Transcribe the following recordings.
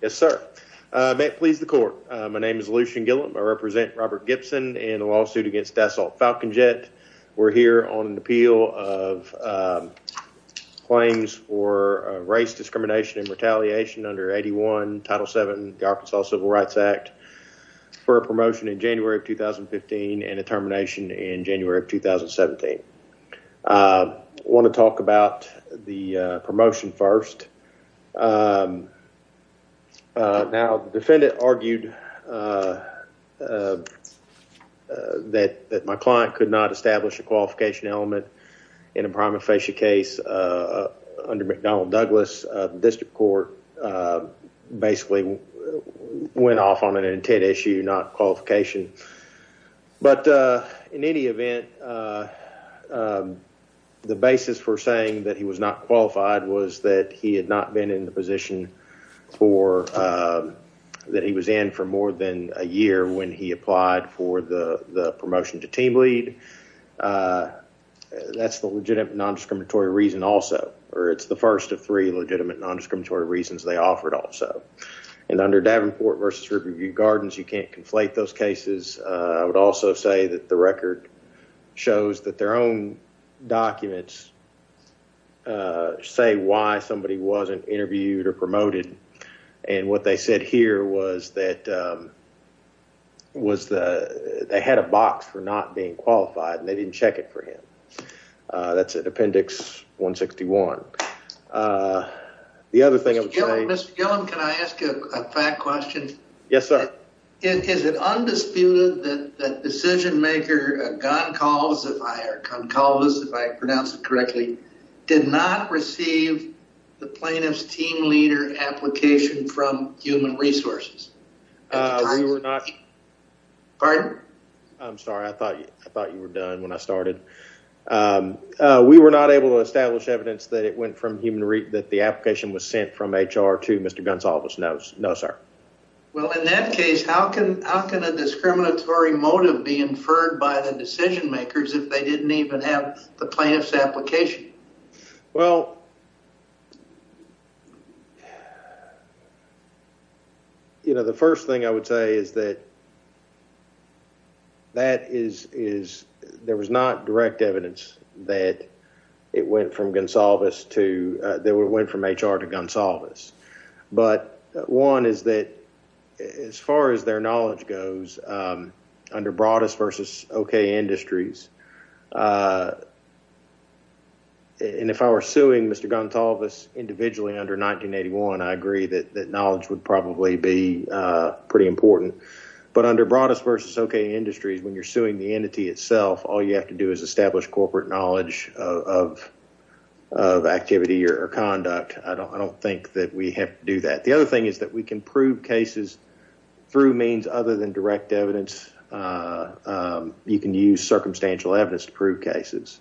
Yes sir. May it please the court. My name is Lucian Gilliam. I represent Robert Gibson in a lawsuit against Dassault Falcon Jet. We're here on an appeal of claims for race discrimination and retaliation under 81 Title VII of the Arkansas Civil Rights Act for a promotion in January of 2015 and a termination in January of 2017. I want to talk about the promotion first. Now the defendant argued that my client could not establish a qualification element in a prima facie case under McDonnell Douglas. The district court basically went off on an intent issue, not qualification. But in any event, the basis for saying that he was not qualified was that he had not been in the position that he was in for more than a year when he applied for the promotion to team lead. That's the legitimate non-discriminatory reason also, or it's the first of three legitimate non-discriminatory reasons they offered also. And under Davenport versus Riverview Gardens, you can't conflate those cases. I would also say that the record shows that their own documents say why somebody wasn't interviewed or promoted. And what they said here was that they had a box for not being qualified and they didn't check it for him. That's in appendix 161. Mr. Gillum, can I ask you a fact question? Yes, sir. Is it undisputed that the decision maker, Goncalves, if I pronounce it correctly, did not receive the plaintiff's team leader application from Human Resources? We were not. Pardon? I'm sorry, I thought you were done when I started. We were not able to establish evidence that it went from Human Resources that the application was sent from HR to Mr. Goncalves. No, sir. Well, in that case, how can a discriminatory motive be inferred by the decision makers if they didn't even have the plaintiff's application? Well, you know, the first thing I would say is that there was not direct evidence that it went from HR to Goncalves. But one is that as far as their knowledge goes, under Broadus versus OK Industries, and if I were suing Mr. Goncalves individually under 1981, I agree that knowledge would probably be pretty important. But under Broadus versus OK Industries, when you're suing the entity itself, all you have to do is establish corporate knowledge of activity or conduct. I don't think that we have to do that. The other thing is that we can prove cases through means other than direct evidence. You can use circumstantial evidence to prove cases.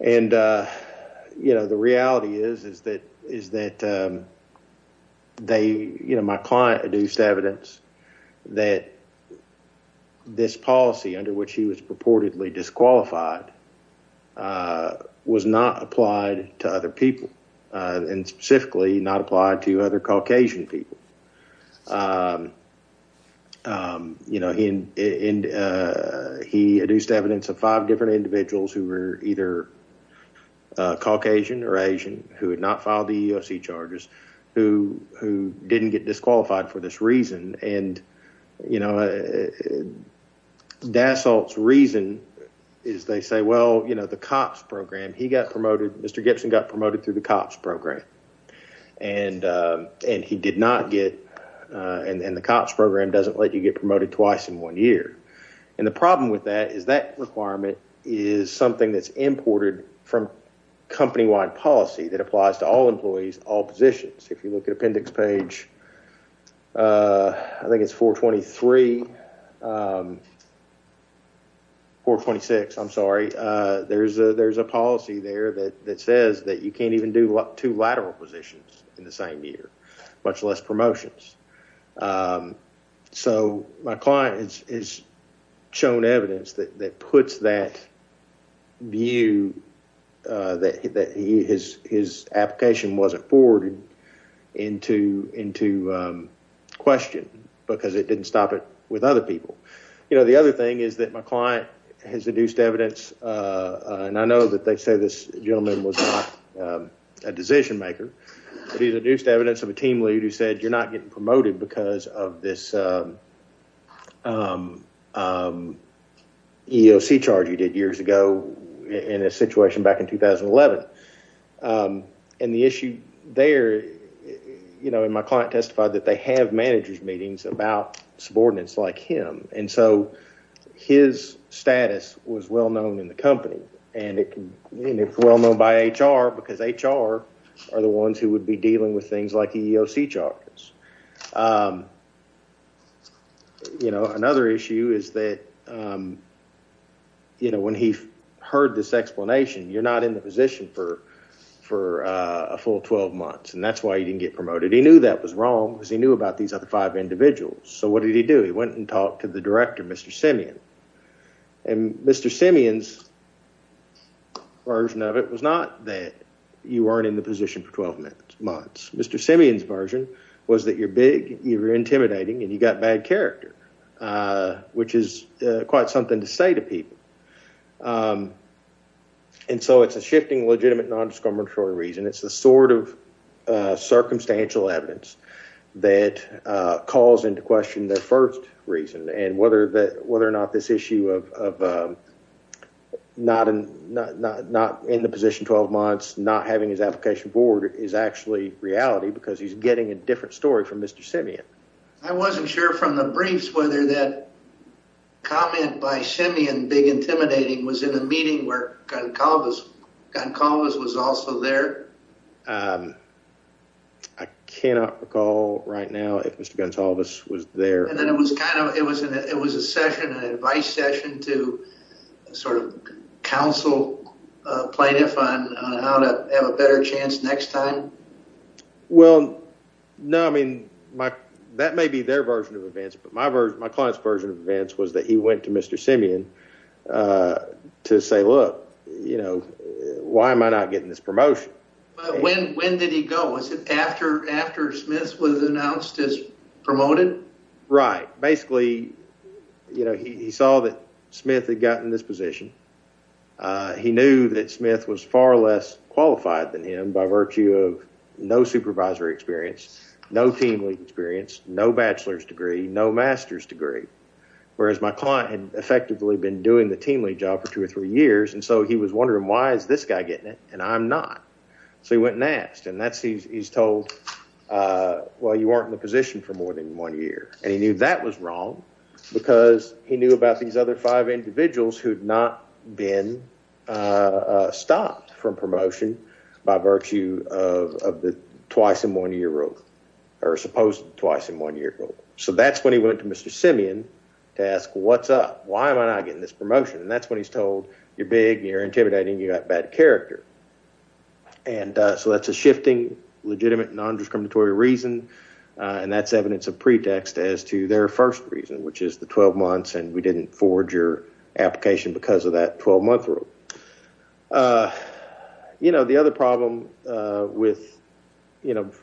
And, you know, the client adduced evidence that this policy under which he was purportedly disqualified was not applied to other people, and specifically not applied to other Caucasian people. You know, he adduced evidence of five different individuals who were either Caucasian or Asian, who had not filed the EEOC charges, who didn't get disqualified for this reason. And, you know, Dassault's reason is they say, well, you know, the COPS program, he got promoted, Mr. Gibson got promoted through the COPS program, and he did not get, and the COPS program doesn't let you get promoted twice in one year. And the problem with that is that requirement is something that's imported from company-wide policy that applies to all employees, all positions. If you look at appendix page, I think it's 423, 426, I'm sorry, there's a policy there that says that you can't even do two lateral positions in the same year, much less promotions. So my client has shown evidence that puts that view that his application wasn't forwarded into question, because it didn't stop it with other people. You know, the other thing is that my client has induced evidence, and I know that they say this gentleman was not a decision maker, but he induced evidence of a team lead who said you're not getting promoted because of this EEOC charge you did years ago in a situation back in 2011. And the issue there, you know, and my client testified that they have managers meetings about subordinates like him, and so his status was well known in the company. And it's well known by HR, because HR are the ones who would be dealing with things like EEOC charges. You know, another issue is that, you know, when he heard this explanation, you're not in the position for a full 12 months, and that's why you didn't get promoted. He knew that was wrong, because he knew about these other five individuals. So what did he do? He went and talked to the director, Mr. Simeon, and Mr. Simeon's version of it was not that you weren't in the position for 12 months. Mr. Simeon's version was that you're big, you're intimidating, and you've got bad character, which is quite something to say to people. And so it's a shifting legitimate nondiscriminatory reason. It's the sort of And whether or not this issue of not in the position 12 months, not having his application forward is actually reality, because he's getting a different story from Mr. Simeon. I wasn't sure from the briefs whether that comment by Simeon, big intimidating, was in a meeting where Gonsalves was also there. I cannot recall right now if Mr. Gonsalves was there. It was a session, an advice session to sort of counsel plaintiff on how to have a better chance next time. Well, no, I mean, that may be their version of events, but my client's version of events was that he went to Mr. Simeon to say, look, why am I not getting this promotion? But when did he go? Was it after Smith was announced as promoted? Right. Basically, you know, he saw that Smith had gotten this position. He knew that Smith was far less qualified than him by virtue of no supervisory experience, no team experience, no bachelor's degree, no master's degree, whereas my client had effectively been doing the team lead job for two or three years. And so he was wondering, why is this guy getting it? And I'm not. So he went next. And that's he's told, well, you aren't in the position for more than one year. And he knew that was wrong because he knew about these other five individuals who had not been stopped from promotion by virtue of the twice in one year rule or supposed twice in one year rule. So that's when he went to Mr. Simeon to ask, what's up? Why am I not getting this promotion? And that's when he's told you're big, you're intimidating, you got bad character. And so that's a shifting, legitimate, nondiscriminatory reason. And that's evidence of pretext as to their first reason, which is the 12 months. And we didn't forge your application because of that 12 month rule. You know, the other problem with, you know, this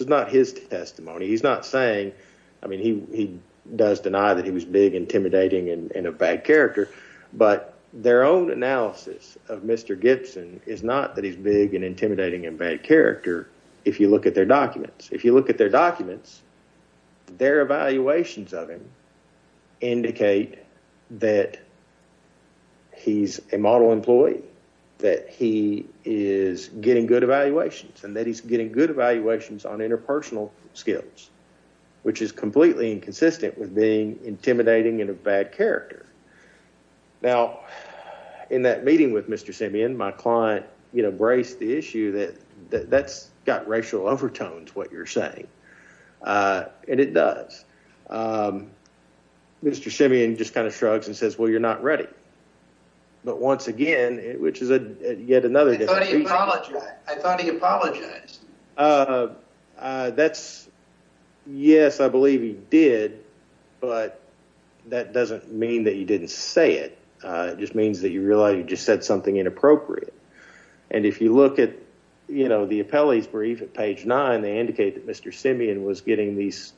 is not his testimony. He's not saying, I mean, he does deny that he was big, intimidating and a bad character. But their own analysis of Mr. Gibson is not that he's big and intimidating and bad character. If you look at their documents, if you look at their documents, their evaluations of him indicate that he's a model employee, that he is getting good evaluations on interpersonal skills, which is completely inconsistent with being intimidating and a bad character. Now, in that meeting with Mr. Simeon, my client, you know, braced the issue that that's got racial overtones, what you're saying. And it does. Mr. Simeon just kind of shrugs and says, well, you're not ready. But once again, which is yet another. I thought he apologized. That's yes, I believe he did. But that doesn't mean that you didn't say it just means that you realize you just said something inappropriate. And if you look at, you know, the appellees brief at page nine, they indicate that Mr. Simeon was getting these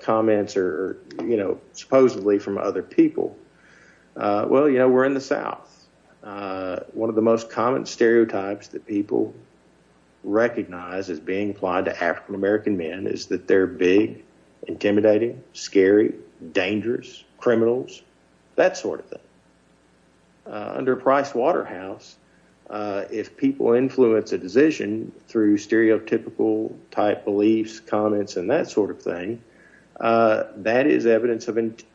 comments or, you know, supposedly from other people. Well, you know, we're in the South. One of the most common stereotypes that people recognize as being applied to African American men is that they're big, intimidating, scary, dangerous criminals, that sort of thing. Under Price Waterhouse, if people influence a decision through stereotypical type beliefs, comments and that sort of thing, that is evidence of intent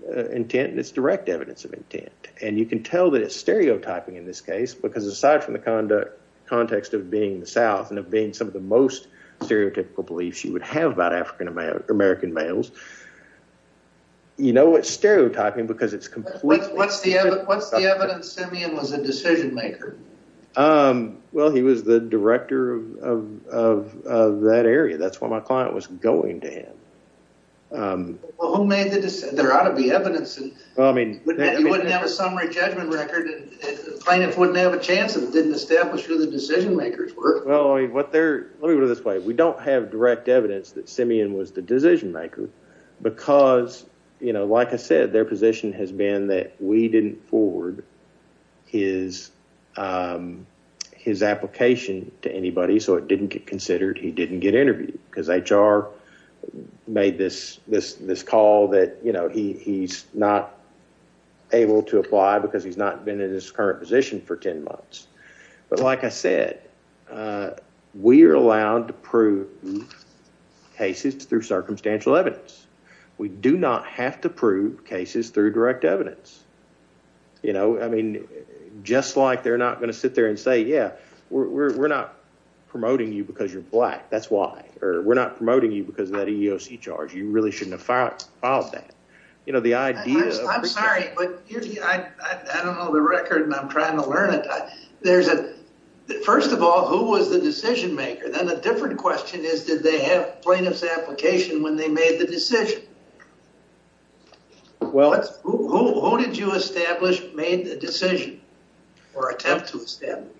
and it's direct evidence of intent. And you can tell that it's stereotyping in this case, because aside from the conduct context of being the South and of being some of the most stereotypical beliefs you would have about African American males. You know, it's stereotyping because it's what's the what's the evidence Simeon was a decision maker? Well, he was the director of that area. That's what my client was going to him. Well, who made the decision? There ought to be evidence. I mean, you wouldn't have a summary judgment record and plaintiffs wouldn't have a chance and didn't establish who the decision makers were. Well, what they're let me put it this way. We don't have direct evidence that Simeon was the decision maker because, you know, like I said, their position has been that we didn't forward his his application to anybody. So it didn't get able to apply because he's not been in his current position for 10 months. But like I said, we are allowed to prove cases through circumstantial evidence. We do not have to prove cases through direct evidence. You know, I mean, just like they're not going to sit there and say, yeah, we're not promoting you because you're black. That's why we're not promoting you because of that EEOC charge. You really shouldn't have filed that. You know, the idea I'm sorry, but I don't know the record and I'm trying to learn it. There's a first of all, who was the decision maker? Then a different question is, did they have plaintiff's application when they made the decision? Well, who did you establish made the decision or attempt to establish?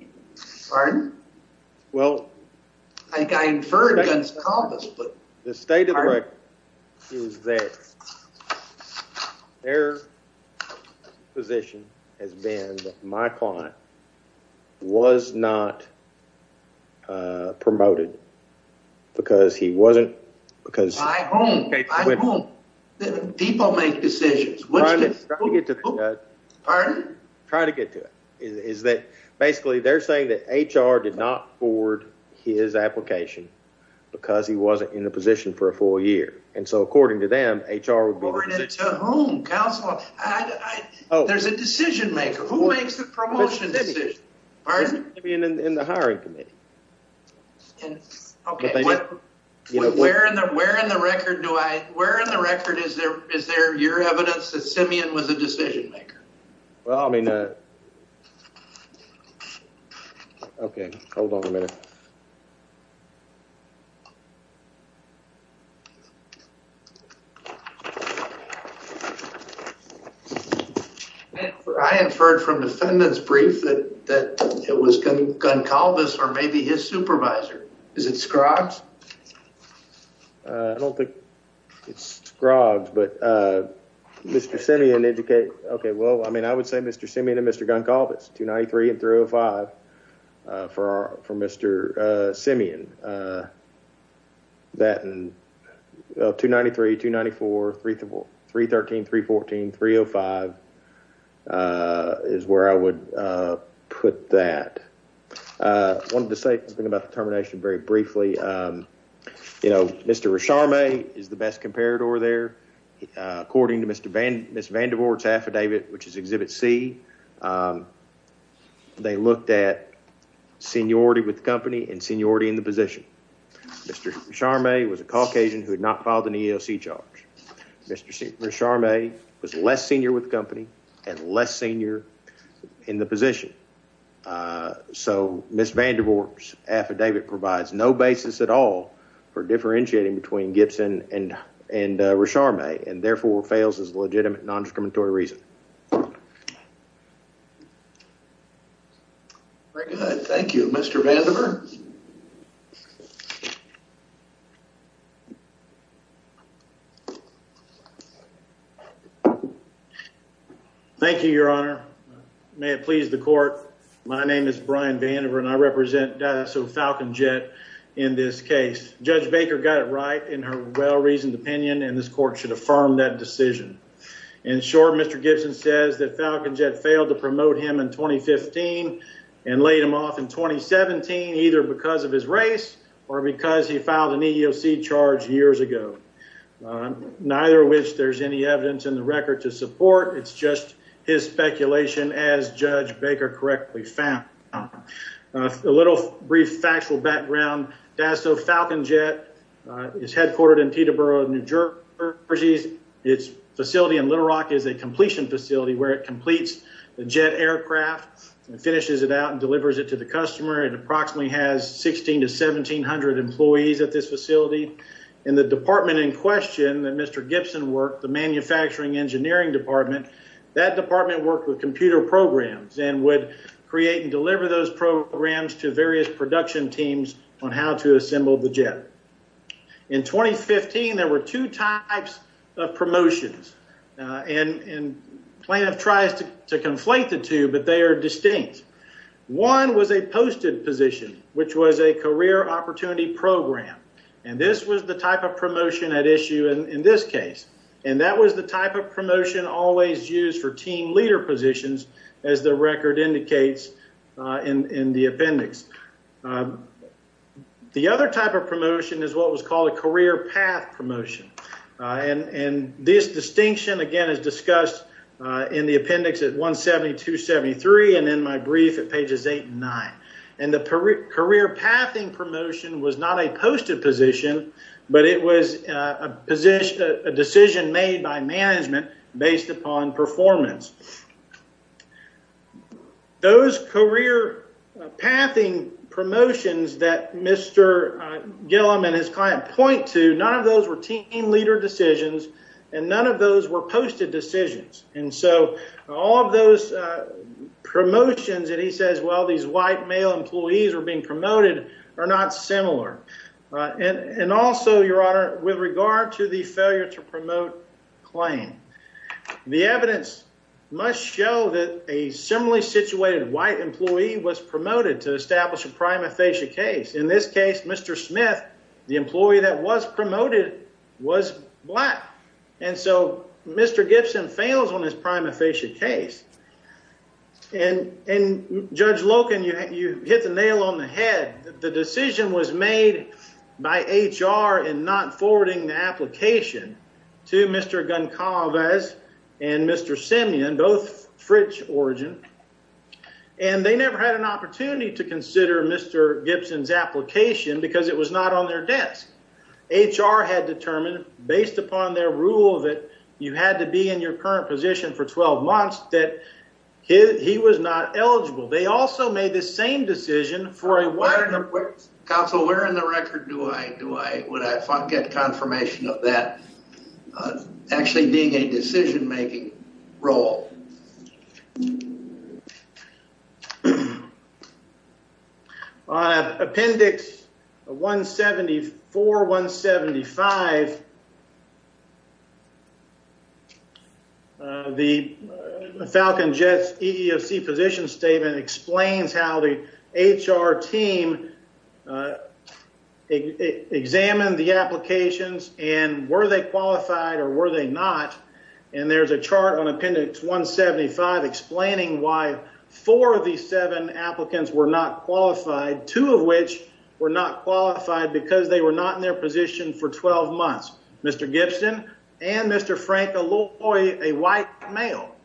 Pardon? Well, I inferred against Columbus, but the state of the record is that their position has been that my client was not promoted because he wasn't because people make decisions. Try to get to that. Pardon? Try to get to it is that basically they're saying that H.R. did not forward his application because he wasn't in the position for a full year. And so according to them, H.R. would be. According to whom? There's a decision maker. Who makes the promotion decision? Simeon in the hiring committee. Okay. Where in the record do I, where in the record is there, is there your evidence that Simeon was a decision maker? Well, I mean, okay, hold on a minute. I inferred from defendant's brief that it was Goncalves or maybe his supervisor. Is it Scroggs? I don't think it's Scroggs, but Mr. Simeon educated. Okay. Well, I mean, I would say Mr. Simeon and Mr. Goncalves, 293 and 305 for Mr. Simeon. That and 293, 294, 313, 314, 305 is where I would put that. I wanted to say something about the termination very briefly. You know, Mr. Resharmay is the best comparator there. According to Ms. Vandervoort's affidavit, which is exhibit C, they looked at seniority with the company and seniority in the position. Mr. Resharmay was a Caucasian who had not filed an EEOC charge. Mr. Resharmay was less senior with the company and less senior in the position. So Ms. Vandervoort's affidavit provides no basis at all for differentiating between Gibson and Resharmay and therefore fails as a legitimate Thank you, Your Honor. May it please the court. My name is Brian Vandervoort and I represent SO Falcon Jet in this case. Judge Baker got it right in her well-reasoned opinion and this court should affirm that decision. In short, Mr. Gibson says that Falcon Jet failed to promote him in 2015 and laid him off in 2017 either because of his race or because he filed an EEOC charge years ago, neither of which there's any evidence in the record to support. It's just his speculation as Judge Baker correctly found. A little brief factual background. DASO Falcon Jet is headquartered in Teterboro, New Jersey. Its facility in Little Rock is a completion facility where it completes the jet aircraft and finishes it out and delivers it to the customer. It the department in question that Mr. Gibson worked, the manufacturing engineering department, that department worked with computer programs and would create and deliver those programs to various production teams on how to assemble the jet. In 2015 there were two types of promotions and plaintiff tries to to conflate the two but they are distinct. One was a posted position which was a career opportunity program and this was the type of promotion at issue in this case and that was the type of promotion always used for team leader positions as the record indicates in the appendix. The other type of promotion is what was called a career path promotion and this distinction again is discussed in the appendix at 172-73 and in my brief at pages 8 and 9 and the career pathing promotion was not a posted position but it was a position a decision made by management based upon performance. Those career pathing promotions that Mr. Gillum and his client point to none of those were team leader decisions and none of those were posted decisions and so all of those promotions that he says well these white male employees are being promoted are not similar and and also your honor with regard to the failure to promote claim the evidence must show that a similarly situated white employee was promoted to establish a prima facie case. In this case Mr. Smith the employee that was promoted was black and so Mr. Gibson fails on his prima facie case and and Judge Loken you hit the nail on the head. The decision was made by HR in not forwarding the application to Mr. Goncalves and Mr. Simeon both French origin and they never had an opportunity to consider Mr. Gibson's application because it was not on their desk. HR had determined based upon their rule that you had to be in your current position for 12 months that he was not eligible. They also made the same decision for a while. Counsel where in the record do I do I would I get confirmation of that actually being a decision-making role? On appendix 174-175 the Falcon Jets EEOC position statement explains how the HR team examined the applications and were they qualified or were they not and there's a chart on appendix 175 explaining why four of these seven applicants were not qualified two of which were not qualified because they were not in their position for 12 months. Mr. Gibson and Mr. Frank a white male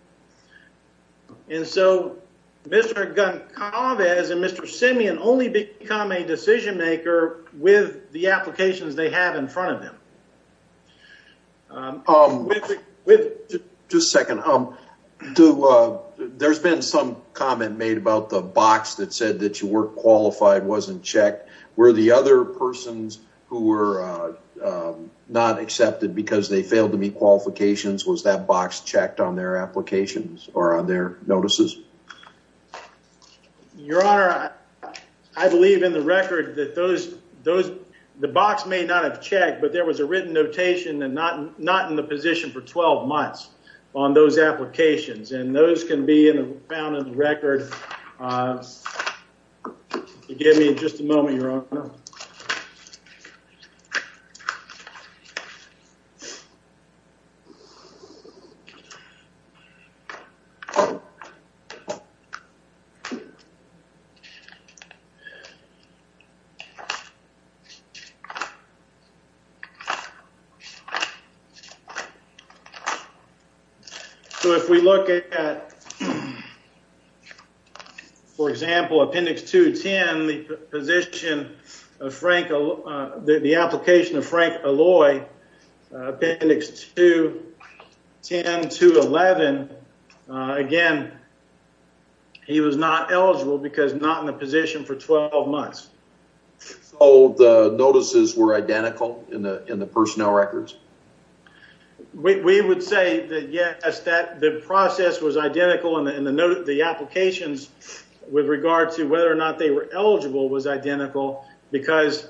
and so Mr. Goncalves and Mr. Simeon only become a decision with the applications they have in front of them. Just a second there's been some comment made about the box that said that you weren't qualified wasn't checked were the other persons who were not accepted because they failed to meet qualifications was that box checked on their applications or on their notices? Your honor I believe in the record that those those the box may not have checked but there was a written notation and not not in the position for 12 months on those applications and those can be in the found in the record give me just a moment your honor. So if we look at for example appendix 210 the position of Frank the application of Frank Alloy appendix 210 to 11 uh again he was not eligible because not in the position for 12 months. So the notices were identical in the in the personnel records? We would say that yes that the process was identical and the note the applications with regard to whether or not they were eligible was identical because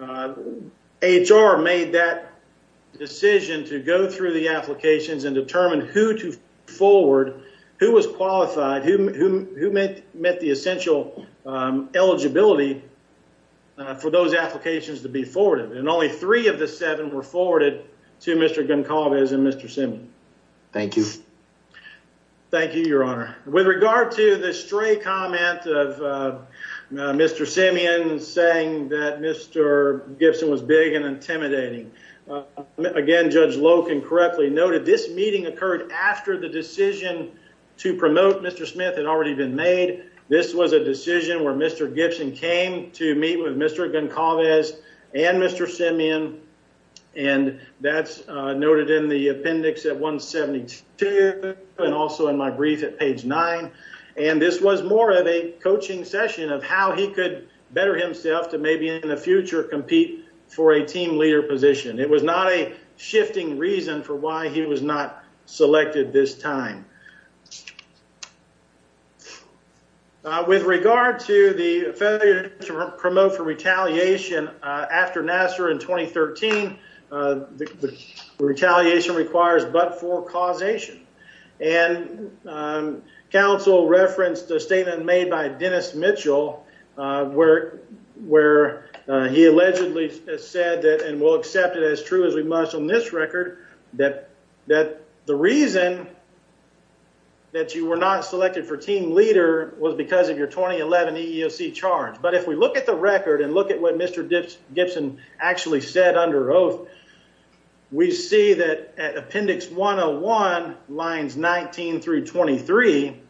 uh HR made that decision to go through the applications and determine who to forward who was qualified who who met met the essential eligibility for those applications to be forwarded and only three of the seven were forwarded to Mr. Goncalves and Mr. Simeon. Thank you. Thank you your honor. With regard to the stray comment of Mr. Simeon saying that Mr. Gibson was big and intimidating again Judge Loken correctly noted this meeting occurred after the decision to promote Mr. Smith had already been made. This was a decision where Mr. Gibson came to meet with Mr. Goncalves and Mr. Simeon and that's noted in the appendix at 172 and also in my brief at page nine and this was more of a coaching session of how he could better himself to maybe in the future compete for a team leader position. It was not a shifting reason for why he was not selected this time. With regard to the failure to promote for retaliation after Nassar in 2013, the retaliation requires but for causation and counsel referenced a statement made by Dennis said that and we'll accept it as true as we must on this record that that the reason that you were not selected for team leader was because of your 2011 EEOC charge but if we look at the record and look at what Mr. Gibson actually said under oath we see that at appendix 101 lines 19 through 23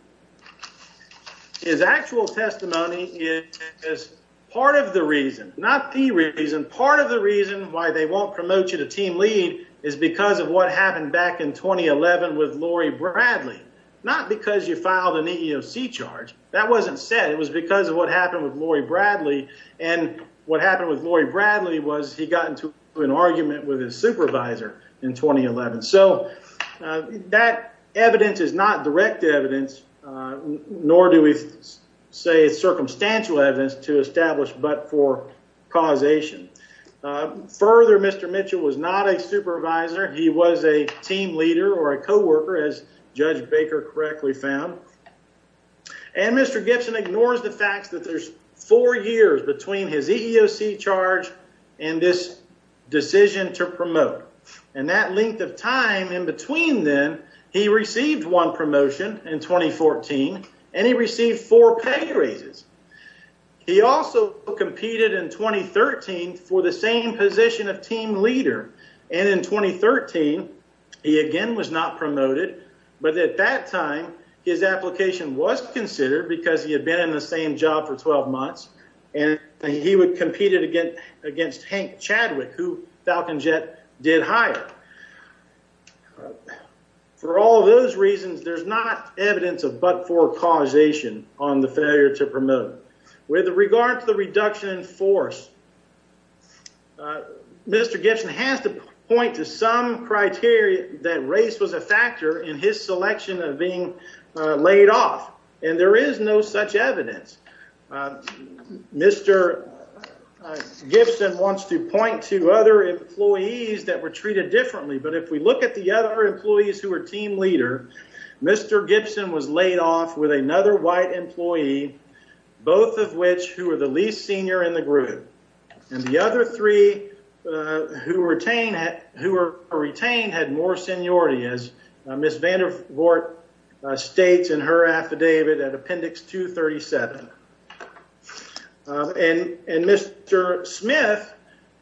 his actual testimony is part of the reason not the reason part of the reason why they won't promote you to team lead is because of what happened back in 2011 with Laurie Bradley not because you filed an EEOC charge that wasn't said it was because of what happened with Laurie Bradley and what happened with Laurie Bradley was he got into an argument with his supervisor in 2011. So that evidence is not direct evidence nor do we say it's circumstantial evidence to establish but for causation. Further Mr. Mitchell was not a supervisor he was a team leader or a co-worker as Judge Baker correctly found and Mr. Gibson ignores the fact that there's four years between his EEOC charge and this decision to promote and that length of time in between then he received one promotion in 2014 and he received four pay raises. He also competed in 2013 for the same position of team leader and in 2013 he again was not promoted but at that time his application was considered because he had been in the same job for 12 months and he would compete against Hank Chadwick who Falcon Jet did hire. For all those reasons there's not evidence of but for causation on the failure to promote. With regard to the reduction in force Mr. Gibson has to point to some criteria that race was a factor in his selection of being laid off and there is no such evidence. Mr. Gibson wants to point to other employees that were treated differently but if we look at the other employees who are team leader Mr. Gibson was laid off with another white employee both of which who are the least senior in the group and the other three who retain who were retained had more seniority as Ms. Vandervoort states in her affidavit at appendix 237. And Mr. Smith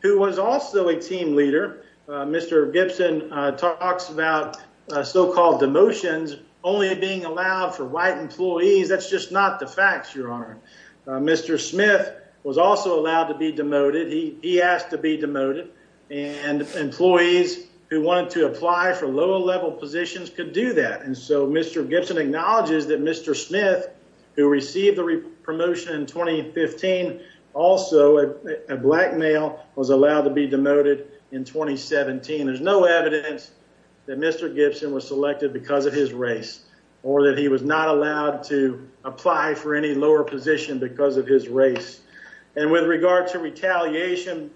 who was also a team leader Mr. Gibson talks about so-called demotions only being allowed for white employees that's just not the facts your honor. Mr. Smith was also allowed to be demoted he he asked to be demoted and employees who wanted to apply for lower level positions could do that and so Mr. Gibson acknowledges that Mr. Smith who received the promotion in 2015 also a black male was allowed to be demoted in 2017. There's no evidence that Mr. Gibson was selected because of his race or that he was not allowed to apply for any lower position because of his race and with regard to retaliation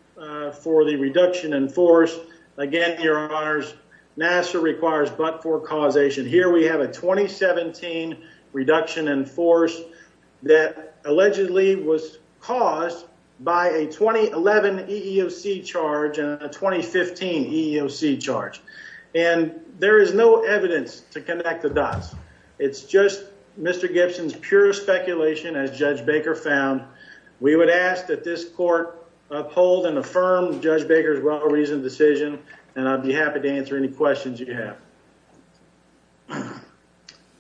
for the reduction in force again your honors NASA requires but for causation here we have a 2017 reduction in force that allegedly was caused by a 2011 EEOC charge and a 2015 EEOC charge and there is no evidence to connect the dots it's just Mr. Gibson's pure speculation as Judge Baker found we would ask that this court uphold and affirm Judge Baker's well-reasoned decision and I'd be happy to answer any questions you have.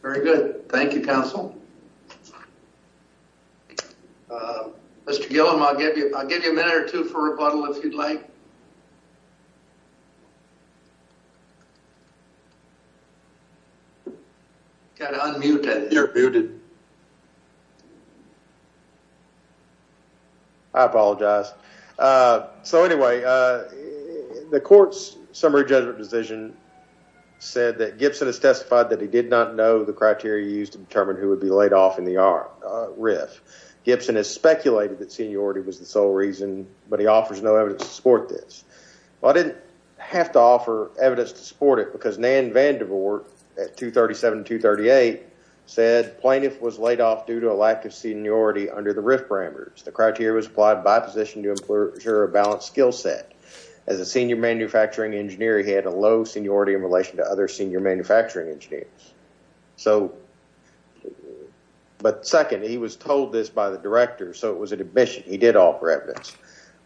Very good thank you counsel. Mr. Gillum I'll give you I'll give you a chance to unmute. I apologize so anyway the court's summary judgment decision said that Gibson has testified that he did not know the criteria used to determine who would be laid off in the RIF. Gibson has speculated that seniority was the sole reason but he offers no evidence to support this. Well I didn't have to offer evidence to support it because Nan Vandervoort at 237-238 said plaintiff was laid off due to a lack of seniority under the RIF parameters. The criteria was applied by position to ensure a balanced skill set. As a senior manufacturing engineer he had a low seniority in relation to other senior manufacturing engineers so but second he was told this by the director so it was an admission he did offer evidence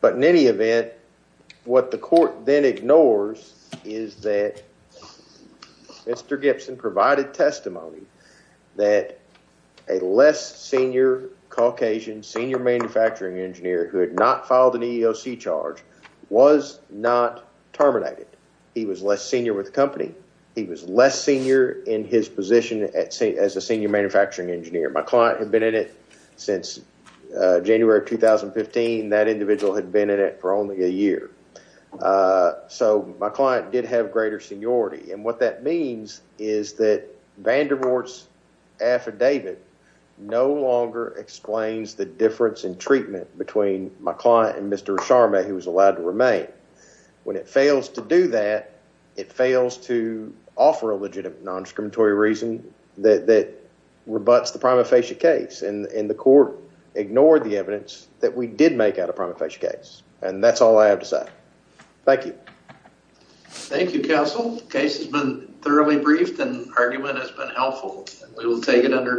but in any event what the court then ignores is that Mr. Gibson provided testimony that a less senior Caucasian senior manufacturing engineer who had not filed an EEOC charge was not terminated. He was less senior with the company. He was less senior in his position as a senior manufacturing engineer. My client had been in it since January of 2015. That individual had been in it for only a year so my client did have greater seniority and what that means is that Vandervoort's affidavit no longer explains the difference in treatment between my client and Mr. Acharma who was allowed to remain. When it fails to do that it fails to offer a legitimate non-discriminatory reason that that rebuts the prima facie case and the court ignored the evidence that we did make out a prima facie case and that's all I have to say. Thank you. Thank you counsel. Case has been thoroughly briefed and argument has been helpful. We will take it under advisement.